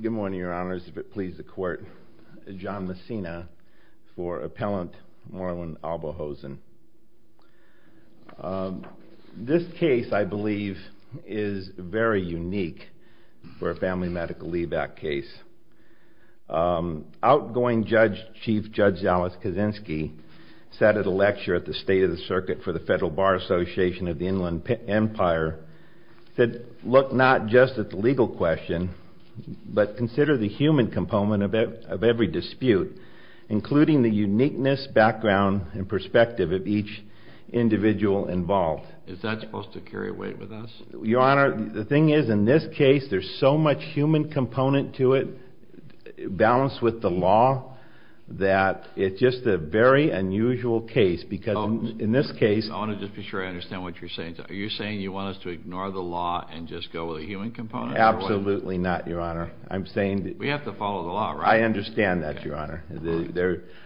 Good morning, Your Honors. If it pleases the Court, John Messina for Appellant Merlin Aboulhosn. This case, I believe, is very unique for a Family Medical Leave Act case. Outgoing Chief Judge Zalis Kaczynski sat at a lecture at the State of the Circuit for the Federal Bar Association of the Inland Empire and said, look not just at the legal question, but consider the human component of every dispute, including the uniqueness, background, and perspective of each individual involved. Is that supposed to carry weight with us? Your Honor, the thing is, in this case, there's so much human component to it, balanced with the law, that it's just a very unusual case because in this case... I want to just be sure I understand what you're saying. Are you saying you want us to ignore the law and just go with the human component? Absolutely not, Your Honor. I'm saying... We have to follow the law, right? I understand that, Your Honor.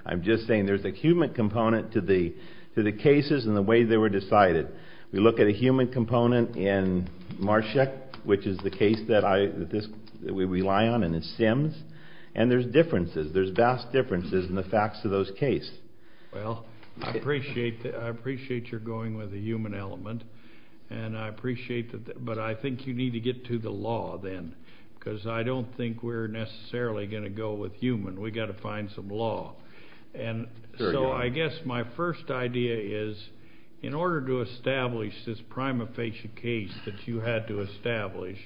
I'm just saying there's a human component to the cases and the way they were decided. We look at a human component in Marshak, which is the case that we rely on, and in Sims, and there's differences, there's vast differences in the facts of those cases. Well, I appreciate that. I appreciate you're going with the human element, and I appreciate that. But I think you need to get to the law then because I don't think we're necessarily going to go with human. We've got to find some law. And so I guess my first idea is in order to establish this prima facie case that you had to establish,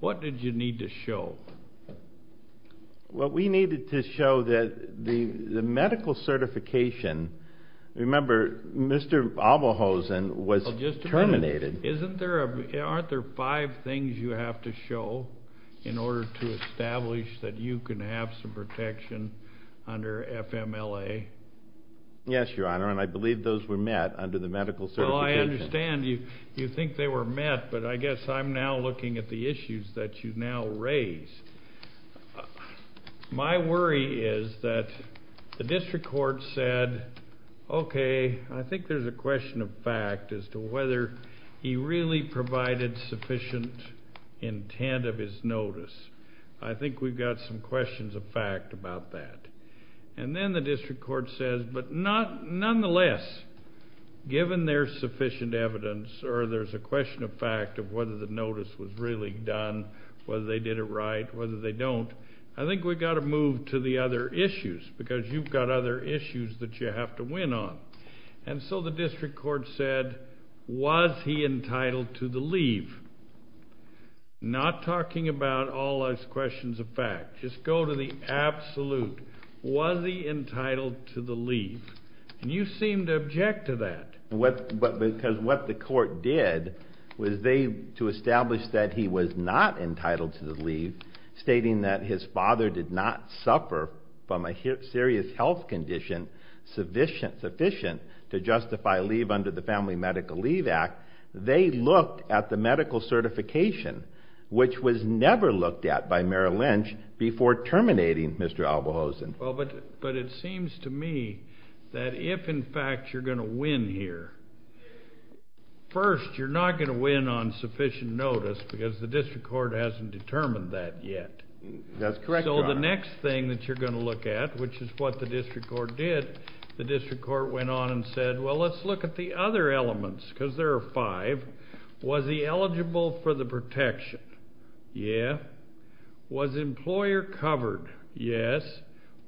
what did you need to show? Well, we needed to show that the medical certification, remember, Mr. Alvahosen was terminated. Well, just a minute. Aren't there five things you have to show in order to establish that you can have some protection under FMLA? Yes, Your Honor, and I believe those were met under the medical certification. I understand you think they were met, but I guess I'm now looking at the issues that you now raise. My worry is that the district court said, okay, I think there's a question of fact as to whether he really provided sufficient intent of his notice. I think we've got some questions of fact about that. And then the district court says, but nonetheless, given there's sufficient evidence or there's a question of fact of whether the notice was really done, whether they did it right, whether they don't, I think we've got to move to the other issues because you've got other issues that you have to win on. And so the district court said, was he entitled to the leave? Not talking about all those questions of fact. Just go to the absolute. Was he entitled to the leave? And you seem to object to that. Because what the court did was they, to establish that he was not entitled to the leave, stating that his father did not suffer from a serious health condition sufficient to justify leave under the Family Medical Leave Act, they looked at the medical certification, which was never looked at by Merrill Lynch, before terminating Mr. Albohausen. But it seems to me that if, in fact, you're going to win here, first you're not going to win on sufficient notice because the district court hasn't determined that yet. That's correct, Your Honor. So the next thing that you're going to look at, which is what the district court did, the district court went on and said, well, let's look at the other elements because there are five. Was he eligible for the protection? Yeah. Was the employer covered? Yes.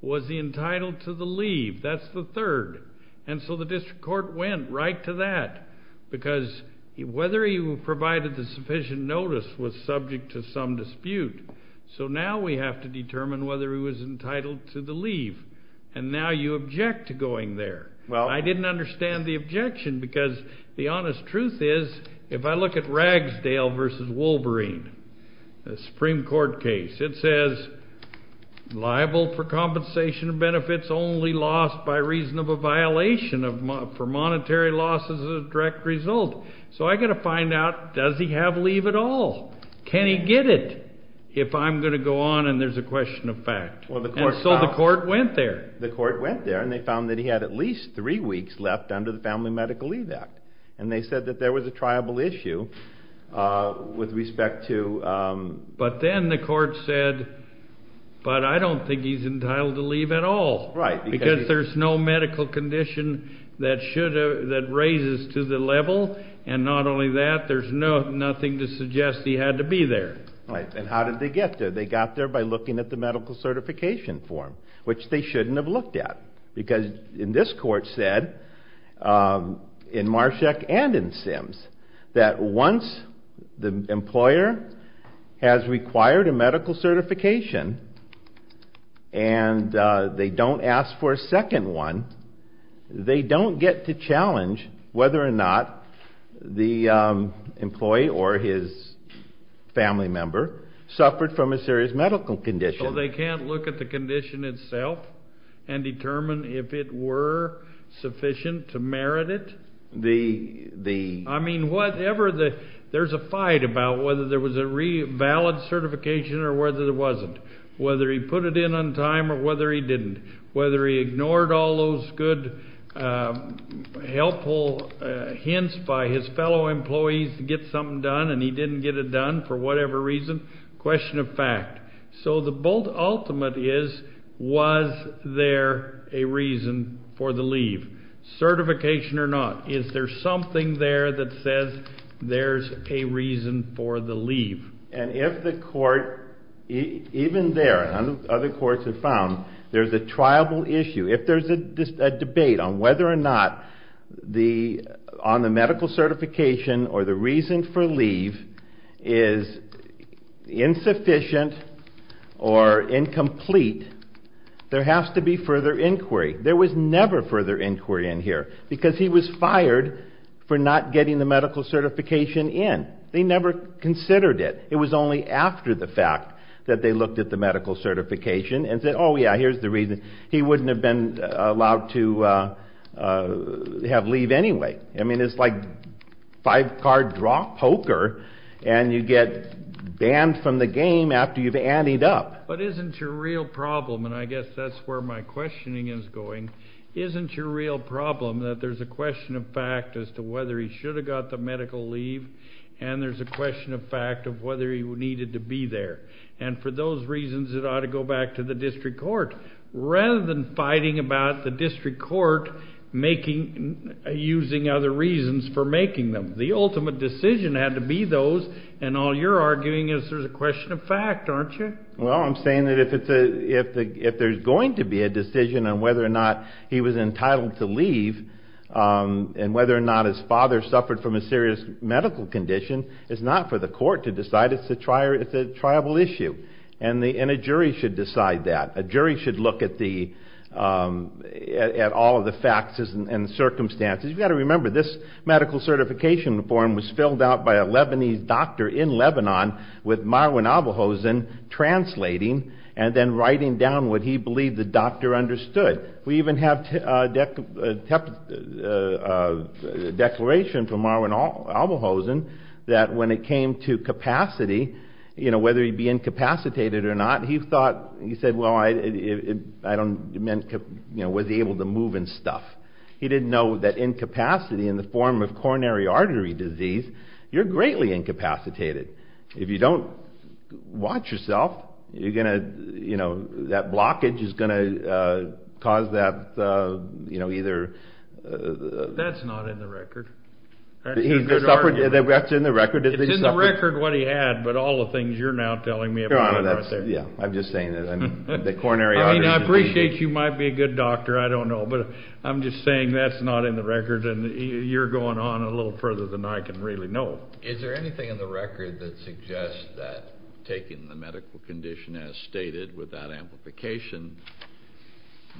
Was he entitled to the leave? That's the third. And so the district court went right to that. Because whether he provided the sufficient notice was subject to some dispute. So now we have to determine whether he was entitled to the leave. And now you object to going there. Well. I didn't understand the objection because the honest truth is, if I look at Ragsdale v. Wolverine, the Supreme Court case, it says liable for compensation of benefits only lost by reason of a violation for monetary losses as a direct result. So I've got to find out, does he have leave at all? Can he get it if I'm going to go on and there's a question of fact? And so the court went there. The court went there and they found that he had at least three weeks left under the Family Medical Leave Act. And they said that there was a triable issue with respect to. But then the court said, but I don't think he's entitled to leave at all. Right. Because there's no medical condition that raises to the level, and not only that, there's nothing to suggest he had to be there. Right. And how did they get there? They got there by looking at the medical certification form, which they shouldn't have looked at. Because in this court said, in Marshak and in Sims, that once the employer has required a medical certification and they don't ask for a second one, they don't get to challenge whether or not the employee or his family member suffered from a serious medical condition. So they can't look at the condition itself and determine if it were sufficient to merit it? The. I mean, whatever the. There's a fight about whether there was a valid certification or whether there wasn't. Whether he put it in on time or whether he didn't. Whether he ignored all those good helpful hints by his fellow employees to get something done and he didn't get it done for whatever reason. Question of fact. So the bold ultimate is, was there a reason for the leave? Certification or not. Is there something there that says there's a reason for the leave? And if the court, even there and other courts have found, there's a triable issue. If there's a debate on whether or not the, on the medical certification or the reason for leave is insufficient or incomplete, there has to be further inquiry. There was never further inquiry in here because he was fired for not getting the medical certification in. They never considered it. It was only after the fact that they looked at the medical certification and said, oh, yeah, here's the reason. He wouldn't have been allowed to have leave anyway. I mean, it's like five-card poker and you get banned from the game after you've added up. But isn't your real problem, and I guess that's where my questioning is going, isn't your real problem that there's a question of fact as to whether he should have got the medical leave and there's a question of fact of whether he needed to be there. And for those reasons, it ought to go back to the district court. Rather than fighting about the district court making, using other reasons for making them. The ultimate decision had to be those, and all you're arguing is there's a question of fact, aren't you? Well, I'm saying that if there's going to be a decision on whether or not he was entitled to leave and whether or not his father suffered from a serious medical condition, it's not for the court to decide. It's a triable issue, and a jury should decide that. A jury should look at all of the facts and circumstances. You've got to remember, this medical certification form was filled out by a Lebanese doctor in Lebanon with Marwan Abelhosen translating and then writing down what he believed the doctor understood. We even have a declaration from Marwan Abelhosen that when it came to capacity, whether he be incapacitated or not, he thought, he said, well, I don't, was able to move and stuff. He didn't know that incapacity in the form of coronary artery disease, you're greatly incapacitated. If you don't watch yourself, you're going to, you know, that blockage is going to cause that, you know, either. That's not in the record. That's in the record. It's in the record what he had, but all the things you're now telling me about. Yeah, I'm just saying that the coronary artery disease. I mean, I appreciate you might be a good doctor, I don't know, but I'm just saying that's not in the record, and you're going on a little further than I can really know. Is there anything in the record that suggests that taking the medical condition as stated with that amplification,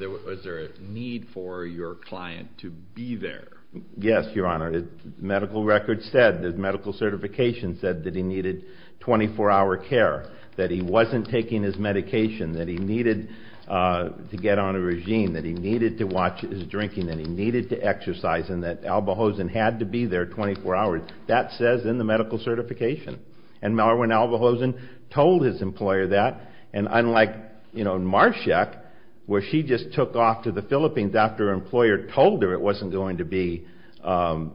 was there a need for your client to be there? Yes, Your Honor. The medical record said, the medical certification said that he needed 24-hour care, that he wasn't taking his medication, that he needed to get on a regime, that he needed to watch his drinking, that he needed to exercise, and that Abelhosen had to be there 24 hours. That says in the medical certification, and Marwan Abelhosen told his employer that, and unlike, you know, Marshak, where she just took off to the Philippines after her employer told her it wasn't going to be allowed,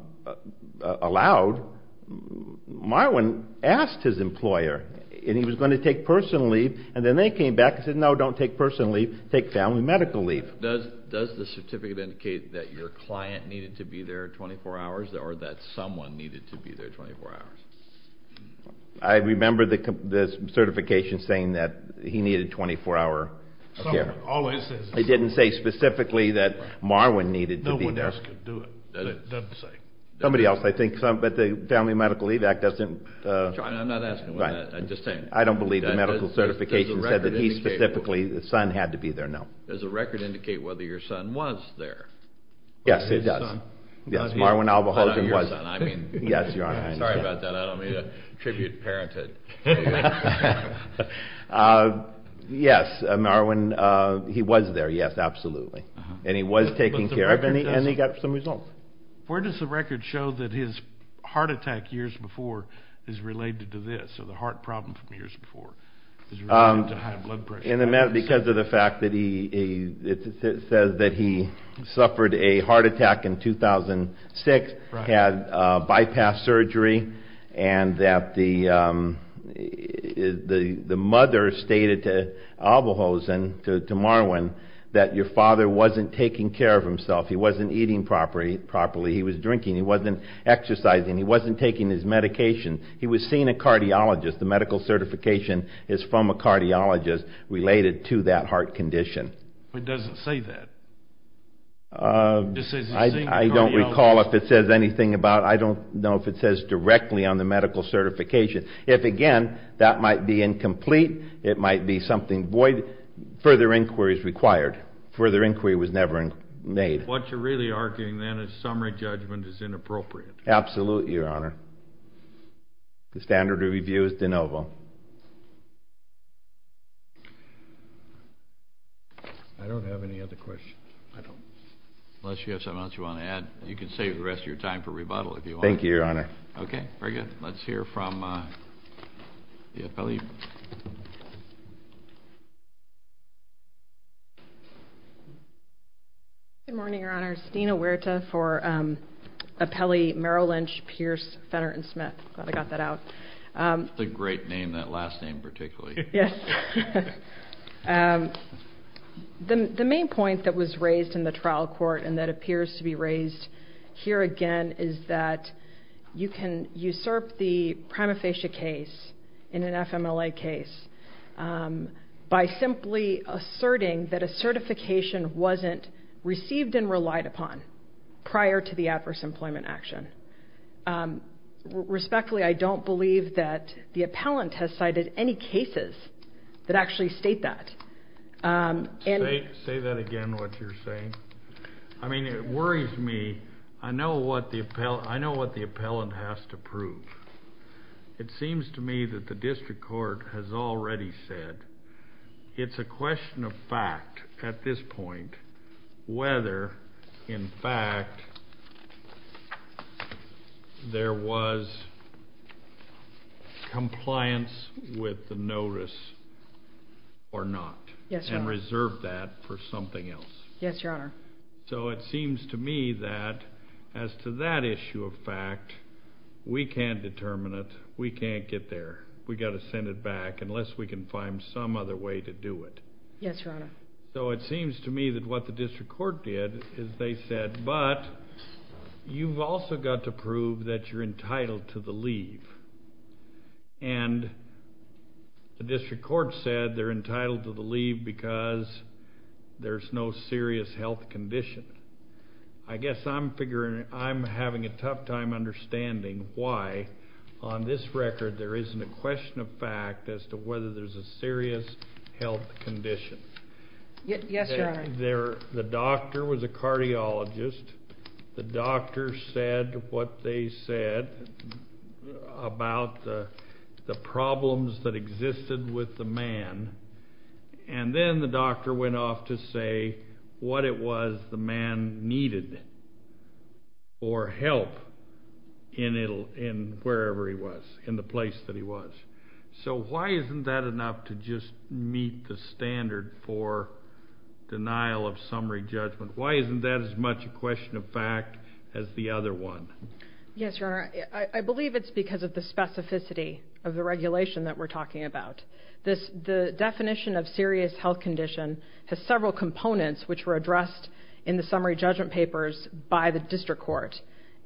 Marwan asked his employer, and he was going to take personal leave, and then they came back and said, no, don't take personal leave, take family medical leave. Does the certificate indicate that your client needed to be there 24 hours, or that someone needed to be there 24 hours? I remember the certification saying that he needed 24-hour care. It didn't say specifically that Marwan needed to be there. No one else could do it, it doesn't say. Somebody else, I think, but the Family Medical Leave Act doesn't. I'm not asking, I'm just saying. I don't believe the medical certification said that he specifically, the son, had to be there, no. Does the record indicate whether your son was there? Yes, it does. Yes, Marwan Abelhosen was. Sorry about that, I don't mean to attribute parenthood. Yes, Marwan, he was there, yes, absolutely. And he was taken care of, and he got some results. Where does the record show that his heart attack years before is related to this, or the heart problem from years before is related to high blood pressure? Because of the fact that he says that he suffered a heart attack in 2006, had bypass surgery, and that the mother stated to Abelhosen, to Marwan, that your father wasn't taking care of himself. He wasn't eating properly, he was drinking, he wasn't exercising, he wasn't taking his medication. He was seeing a cardiologist. The medical certification is from a cardiologist related to that heart condition. It doesn't say that. I don't recall if it says anything about it. I don't know if it says directly on the medical certification. If, again, that might be incomplete, it might be something void, further inquiry is required. Further inquiry was never made. What you're really arguing then is summary judgment is inappropriate. Absolutely, Your Honor. The standard review is de novo. I don't have any other questions. Unless you have something else you want to add, you can save the rest of your time for rebuttal if you want. Thank you, Your Honor. Let's hear from the appellee. Good morning, Your Honor. Stina Huerta for appellee Merrill Lynch, Pierce, Fenner, and Smith. Glad I got that out. That's a great name, that last name particularly. Yes. The main point that was raised in the trial court and that appears to be raised here again is that you can usurp the MLA case by simply asserting that a certification wasn't received and relied upon prior to the adverse employment action. Respectfully, I don't believe that the appellant has cited any cases that actually state that. Say that again, what you're saying. I mean, it worries me. I know what the appellant has to prove. It seems to me that the district court has already said it's a question of fact at this point whether, in fact, there was compliance with the notice or not. Yes, Your Honor. And reserve that for something else. Yes, Your Honor. So it seems to me that as to that issue of fact, we can't determine it. We can't get there. We've got to send it back unless we can find some other way to do it. Yes, Your Honor. So it seems to me that what the district court did is they said, but you've also got to prove that you're entitled to the leave. And the district court said they're entitled to the leave because there's no serious health condition. I guess I'm figuring I'm having a tough time understanding why on this record there isn't a question of fact as to whether there's a serious health condition. Yes, Your Honor. The doctor was a cardiologist. The doctor said what they said about the problems that existed with the man. And then the doctor went off to say what it was the man needed for help in wherever he was, in the place that he was. So why isn't that enough to just meet the standard for denial of summary judgment? Why isn't that as much a question of fact as the other one? Yes, Your Honor. I believe it's because of the specificity of the regulation that we're talking about. The definition of serious health condition has several components which were addressed in the summary judgment papers by the district court.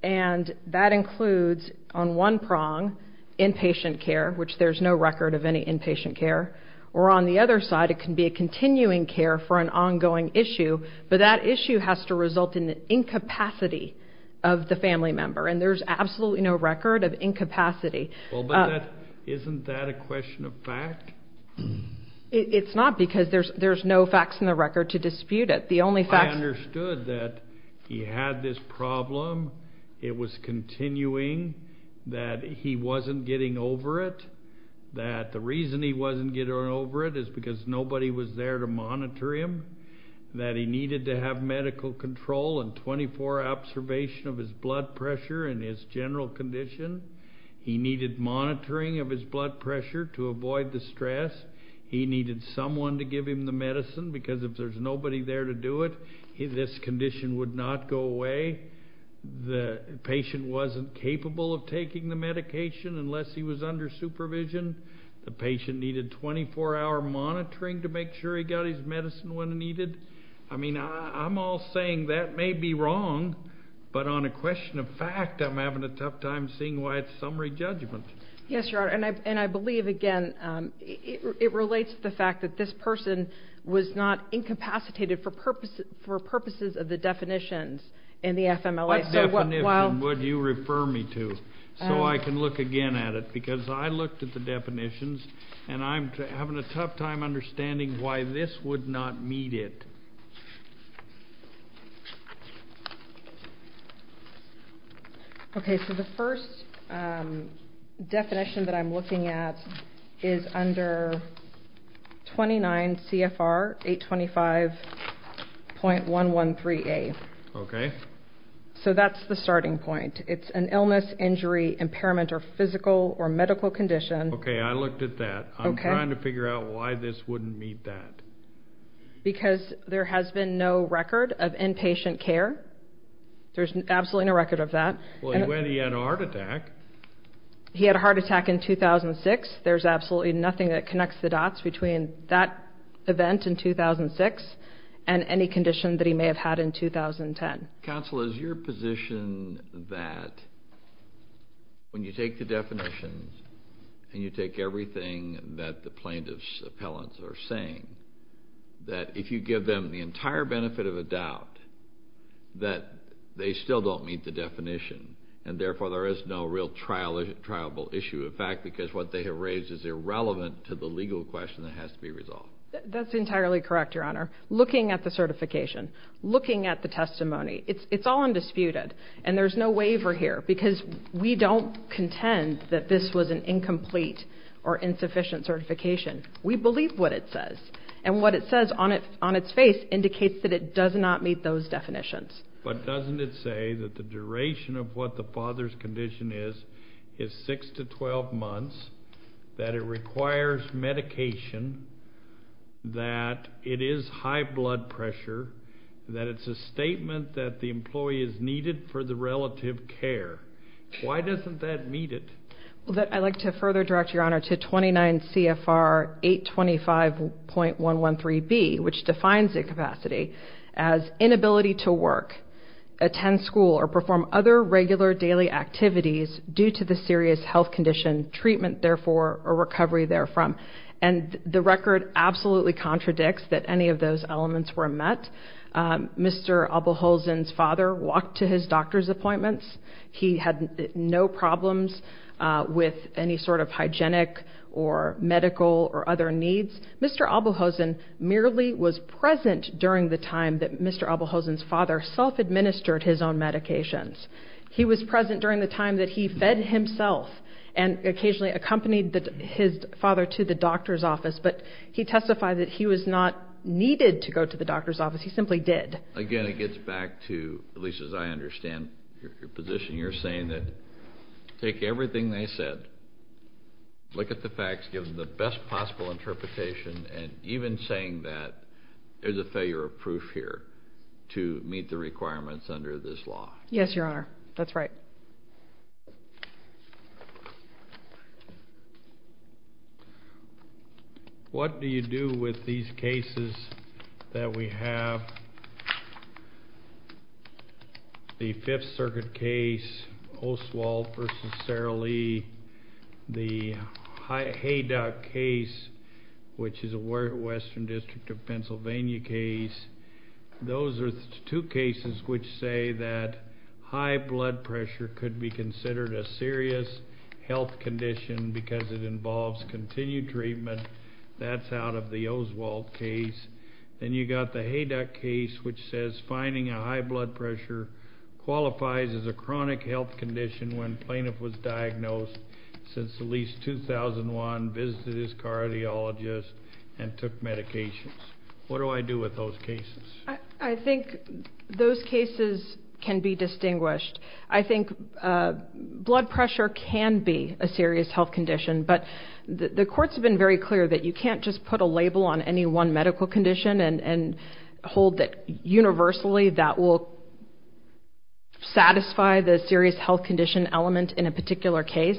And that includes on one prong inpatient care, which there's no record of any inpatient care. Or on the other side, it can be a continuing care for an ongoing issue. But that issue has to result in the incapacity of the family member. And there's absolutely no record of incapacity. Well, but isn't that a question of fact? It's not because there's no facts in the record to dispute it. I understood that he had this problem. It was continuing. That he wasn't getting over it. That the reason he wasn't getting over it is because nobody was there to monitor him. That he needed to have medical control and 24 observation of his blood pressure and his general condition. He needed monitoring of his blood pressure to avoid the stress. He needed someone to give him the medicine because if there's nobody there to do it, this condition would not go away. The patient wasn't capable of taking the medication unless he was under supervision. The patient needed 24-hour monitoring to make sure he got his medicine when needed. I mean, I'm all saying that may be wrong. But on a question of fact, I'm having a tough time seeing why it's summary judgment. Yes, Your Honor, and I believe, again, it relates to the fact that this person was not incapacitated for purposes of the definitions in the FMLA. What definition would you refer me to so I can look again at it? Because I looked at the definitions, and I'm having a tough time understanding why this would not meet it. Okay, so the first definition that I'm looking at is under 29 CFR 825.113A. Okay. So that's the starting point. It's an illness, injury, impairment, or physical or medical condition. Okay, I looked at that. I'm trying to figure out why this wouldn't meet that. Because there has been no record of inpatient care. There's absolutely no record of that. Well, he had a heart attack. He had a heart attack in 2006. There's absolutely nothing that connects the dots between that event in 2006 and any condition that he may have had in 2010. Counsel, is your position that when you take the definitions and you take everything that the plaintiff's appellants are saying, that if you give them the entire benefit of a doubt, that they still don't meet the definition, and therefore there is no real trialable issue? In fact, because what they have raised is irrelevant to the legal question that has to be resolved. That's entirely correct, Your Honor. Looking at the certification, looking at the testimony, it's all undisputed, and there's no waiver here because we don't contend that this was an incomplete or insufficient certification. We believe what it says, and what it says on its face indicates that it does not meet those definitions. But doesn't it say that the duration of what the father's condition is is 6 to 12 months, that it requires medication, that it is high blood pressure, that it's a statement that the employee is needed for the relative care? Why doesn't that meet it? I'd like to further direct, Your Honor, to 29 CFR 825.113B, which defines incapacity as inability to work, attend school, or perform other regular daily activities due to the serious health condition, treatment, therefore, or recovery therefrom. And the record absolutely contradicts that any of those elements were met. Mr. Abelhosen's father walked to his doctor's appointments. He had no problems with any sort of hygienic or medical or other needs. Mr. Abelhosen merely was present during the time that Mr. Abelhosen's father self-administered his own medications. He was present during the time that he fed himself and occasionally accompanied his father to the doctor's office, but he testified that he was not needed to go to the doctor's office. He simply did. Again, it gets back to, at least as I understand your position, giving the best possible interpretation and even saying that there's a failure of proof here to meet the requirements under this law. Yes, Your Honor. That's right. What do you do with these cases that we have? The Fifth Circuit case, Oswald v. Sara Lee. The Hayduck case, which is a Western District of Pennsylvania case. Those are two cases which say that high blood pressure could be considered a serious health condition because it involves continued treatment. That's out of the Oswald case. Then you've got the Hayduck case, which says finding a high blood pressure qualifies as a chronic health condition when plaintiff was diagnosed since at least 2001, visited his cardiologist, and took medications. What do I do with those cases? I think those cases can be distinguished. I think blood pressure can be a serious health condition, but the courts have been very clear that you can't just put a label on any one medical condition and hold that universally that will satisfy the serious health condition element in a particular case.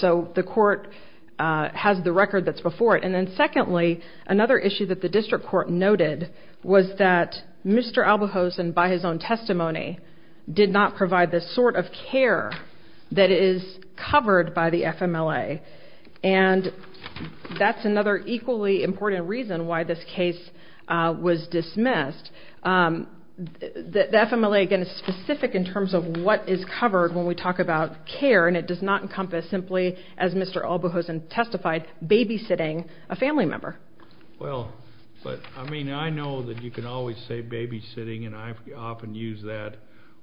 So the court has the record that's before it. Secondly, another issue that the district court noted was that Mr. Albuhosen, by his own testimony, did not provide the sort of care that is covered by the FMLA, and that's another equally important reason why this case was dismissed. The FMLA, again, is specific in terms of what is covered when we talk about care, and it does not encompass simply, as Mr. Albuhosen testified, babysitting a family member. Well, I mean, I know that you can always say babysitting, and I often use that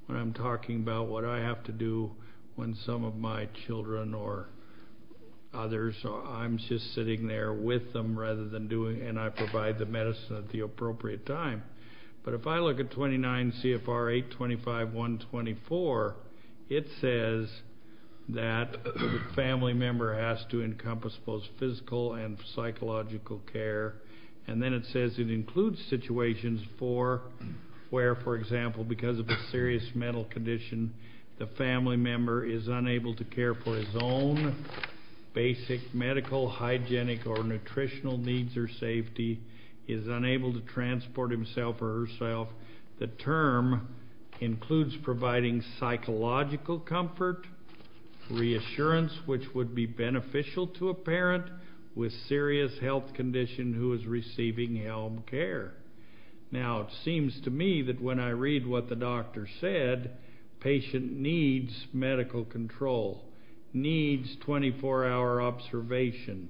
when I'm talking about what I have to do when some of my children or others, I'm just sitting there with them rather than doing it, and I provide the medicine at the appropriate time. But if I look at 29 CFR 825.124, it says that the family member has to encompass both physical and psychological care, and then it says it includes situations where, for example, because of a serious mental condition, the family member is unable to care for his own basic medical, hygienic, or nutritional needs or safety, he is unable to transport himself or herself. The term includes providing psychological comfort, reassurance, which would be beneficial to a parent with serious health condition who is receiving health care. Now, it seems to me that when I read what the doctor said, patient needs medical control, needs 24-hour observation,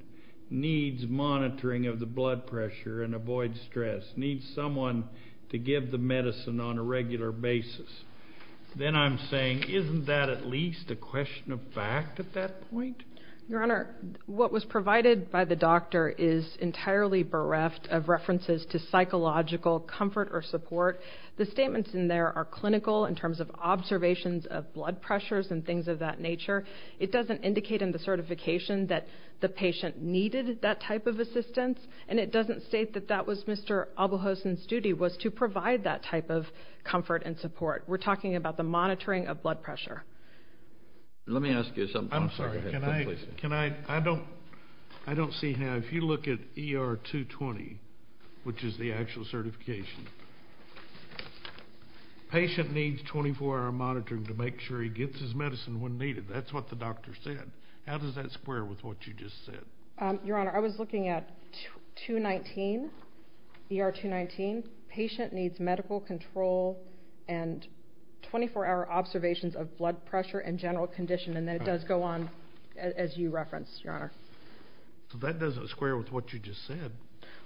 needs monitoring of the blood pressure and avoid stress, needs someone to give the medicine on a regular basis, then I'm saying isn't that at least a question of fact at that point? Your Honor, what was provided by the doctor is entirely bereft of references to psychological comfort or support. The statements in there are clinical in terms of observations of blood pressures and things of that nature. It doesn't indicate in the certification that the patient needed that type of assistance, and it doesn't state that that was Mr. Abelhosen's duty was to provide that type of comfort and support. We're talking about the monitoring of blood pressure. Let me ask you something. I'm sorry. Please. I don't see how if you look at ER 220, which is the actual certification, patient needs 24-hour monitoring to make sure he gets his medicine when needed. That's what the doctor said. How does that square with what you just said? Your Honor, I was looking at ER 219. Patient needs medical control and 24-hour observations of blood pressure and general condition, and that does go on as you referenced, Your Honor. So that doesn't square with what you just said.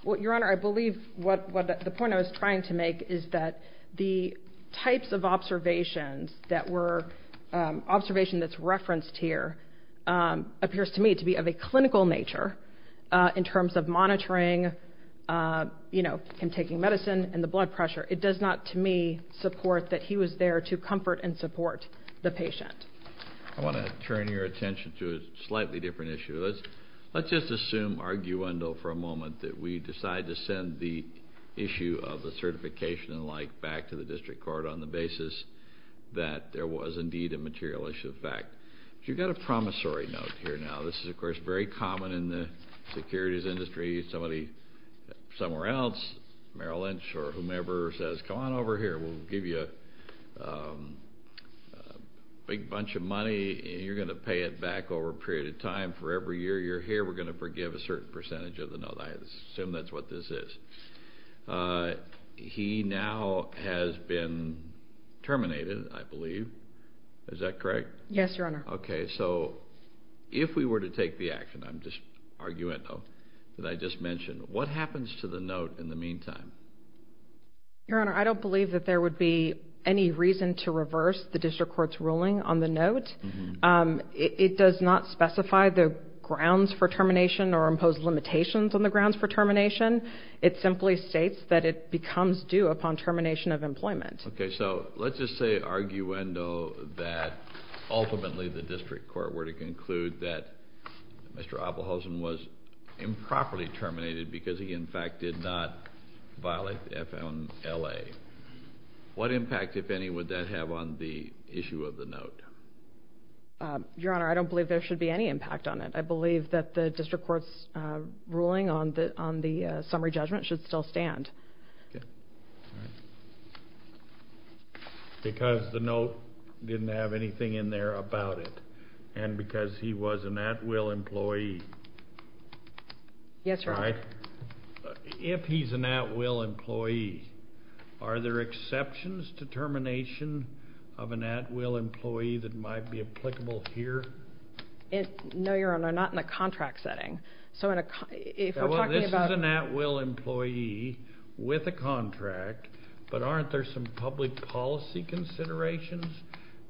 Well, Your Honor, I believe what the point I was trying to make is that the types of observations that were observation that's referenced here appears to me to be of a clinical nature in terms of monitoring, you know, him taking medicine and the blood pressure. It does not, to me, support that he was there to comfort and support the patient. I want to turn your attention to a slightly different issue. Let's just assume, arguendo for a moment, that we decide to send the issue of the certification and the like back to the district court on the basis that there was indeed a material issue of fact. You've got a promissory note here now. This is, of course, very common in the securities industry. Somebody somewhere else, Merrill Lynch or whomever, says, come on over here. We'll give you a big bunch of money, and you're going to pay it back over a period of time. For every year you're here, we're going to forgive a certain percentage of the note. I assume that's what this is. He now has been terminated, I believe. Is that correct? Yes, Your Honor. Okay. So if we were to take the action, I'm just arguendo, that I just mentioned, what happens to the note in the meantime? Your Honor, I don't believe that there would be any reason to reverse the district court's ruling on the note. It does not specify the grounds for termination or impose limitations on the grounds for termination. It simply states that it becomes due upon termination of employment. Okay. So let's just say, arguendo, that ultimately the district court were to conclude that Mr. Oppelhausen was improperly terminated because he, in fact, did not violate the F.L.A. What impact, if any, would that have on the issue of the note? Your Honor, I don't believe there should be any impact on it. I believe that the district court's ruling on the summary judgment should still stand. Okay. Because the note didn't have anything in there about it, and because he was an at-will employee. Yes, Your Honor. If he's an at-will employee, are there exceptions to termination of an at-will employee that might be applicable here? No, Your Honor, not in a contract setting. So if we're talking about This is an at-will employee with a contract, but aren't there some public policy considerations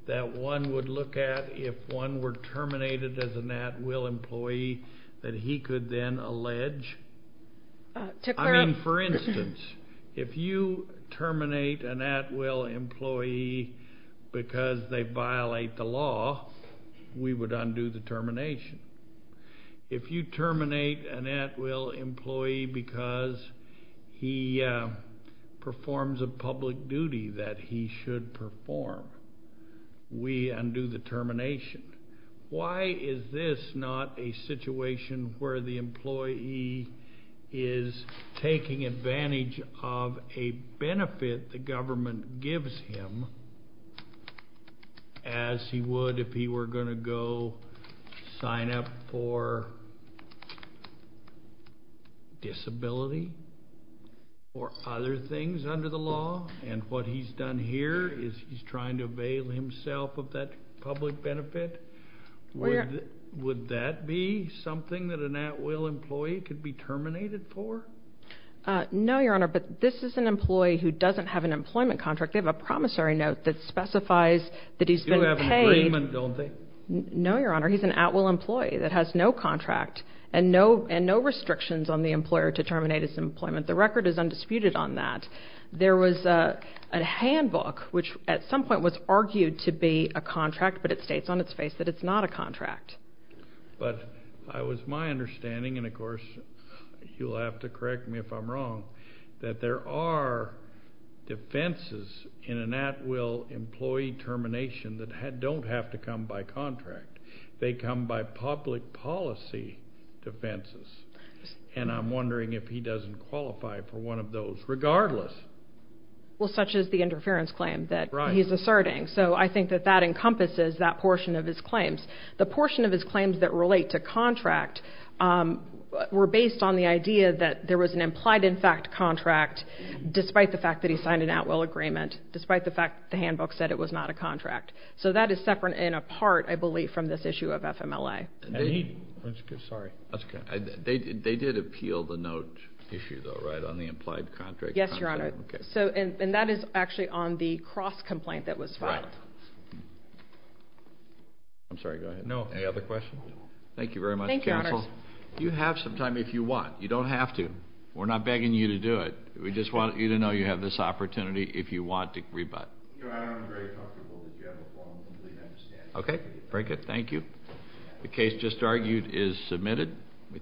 that one would look at if one were terminated as an at-will employee that he could then allege? To clarify. I mean, for instance, if you terminate an at-will employee because they violate the law, we would undo the termination. If you terminate an at-will employee because he performs a public duty that he should perform, we undo the termination. Why is this not a situation where the employee is taking advantage of a benefit the government gives him as he would if he were going to go sign up for disability or other things under the law? And what he's done here is he's trying to avail himself of that public benefit? Would that be something that an at-will employee could be terminated for? No, Your Honor, but this is an employee who doesn't have an employment contract. They have a promissory note that specifies that he's been paid. They do have an agreement, don't they? No, Your Honor, he's an at-will employee that has no contract and no restrictions on the employer to terminate his employment. The record is undisputed on that. There was a handbook which at some point was argued to be a contract, but it states on its face that it's not a contract. But it was my understanding, and of course you'll have to correct me if I'm wrong, that there are defenses in an at-will employee termination that don't have to come by contract. They come by public policy defenses. And I'm wondering if he doesn't qualify for one of those regardless. Well, such is the interference claim that he's asserting. So I think that that encompasses that portion of his claims. The portion of his claims that relate to contract were based on the idea that there was an implied in fact contract, despite the fact that he signed an at-will agreement, despite the fact the handbook said it was not a contract. So that is separate and apart, I believe, from this issue of FMLA. Okay. Sorry. That's okay. They did appeal the note issue, though, right, on the implied contract? Yes, Your Honor. Okay. And that is actually on the cross-complaint that was filed. Right. I'm sorry. Go ahead. No. Any other questions? Thank you very much, counsel. Thank you, Your Honor. You have some time if you want. You don't have to. We're not begging you to do it. We just want you to know you have this opportunity if you want to rebut. No, I don't. I'm very comfortable that you have a phone. I completely understand. Okay. Very good. Thank you. The case just argued is submitted.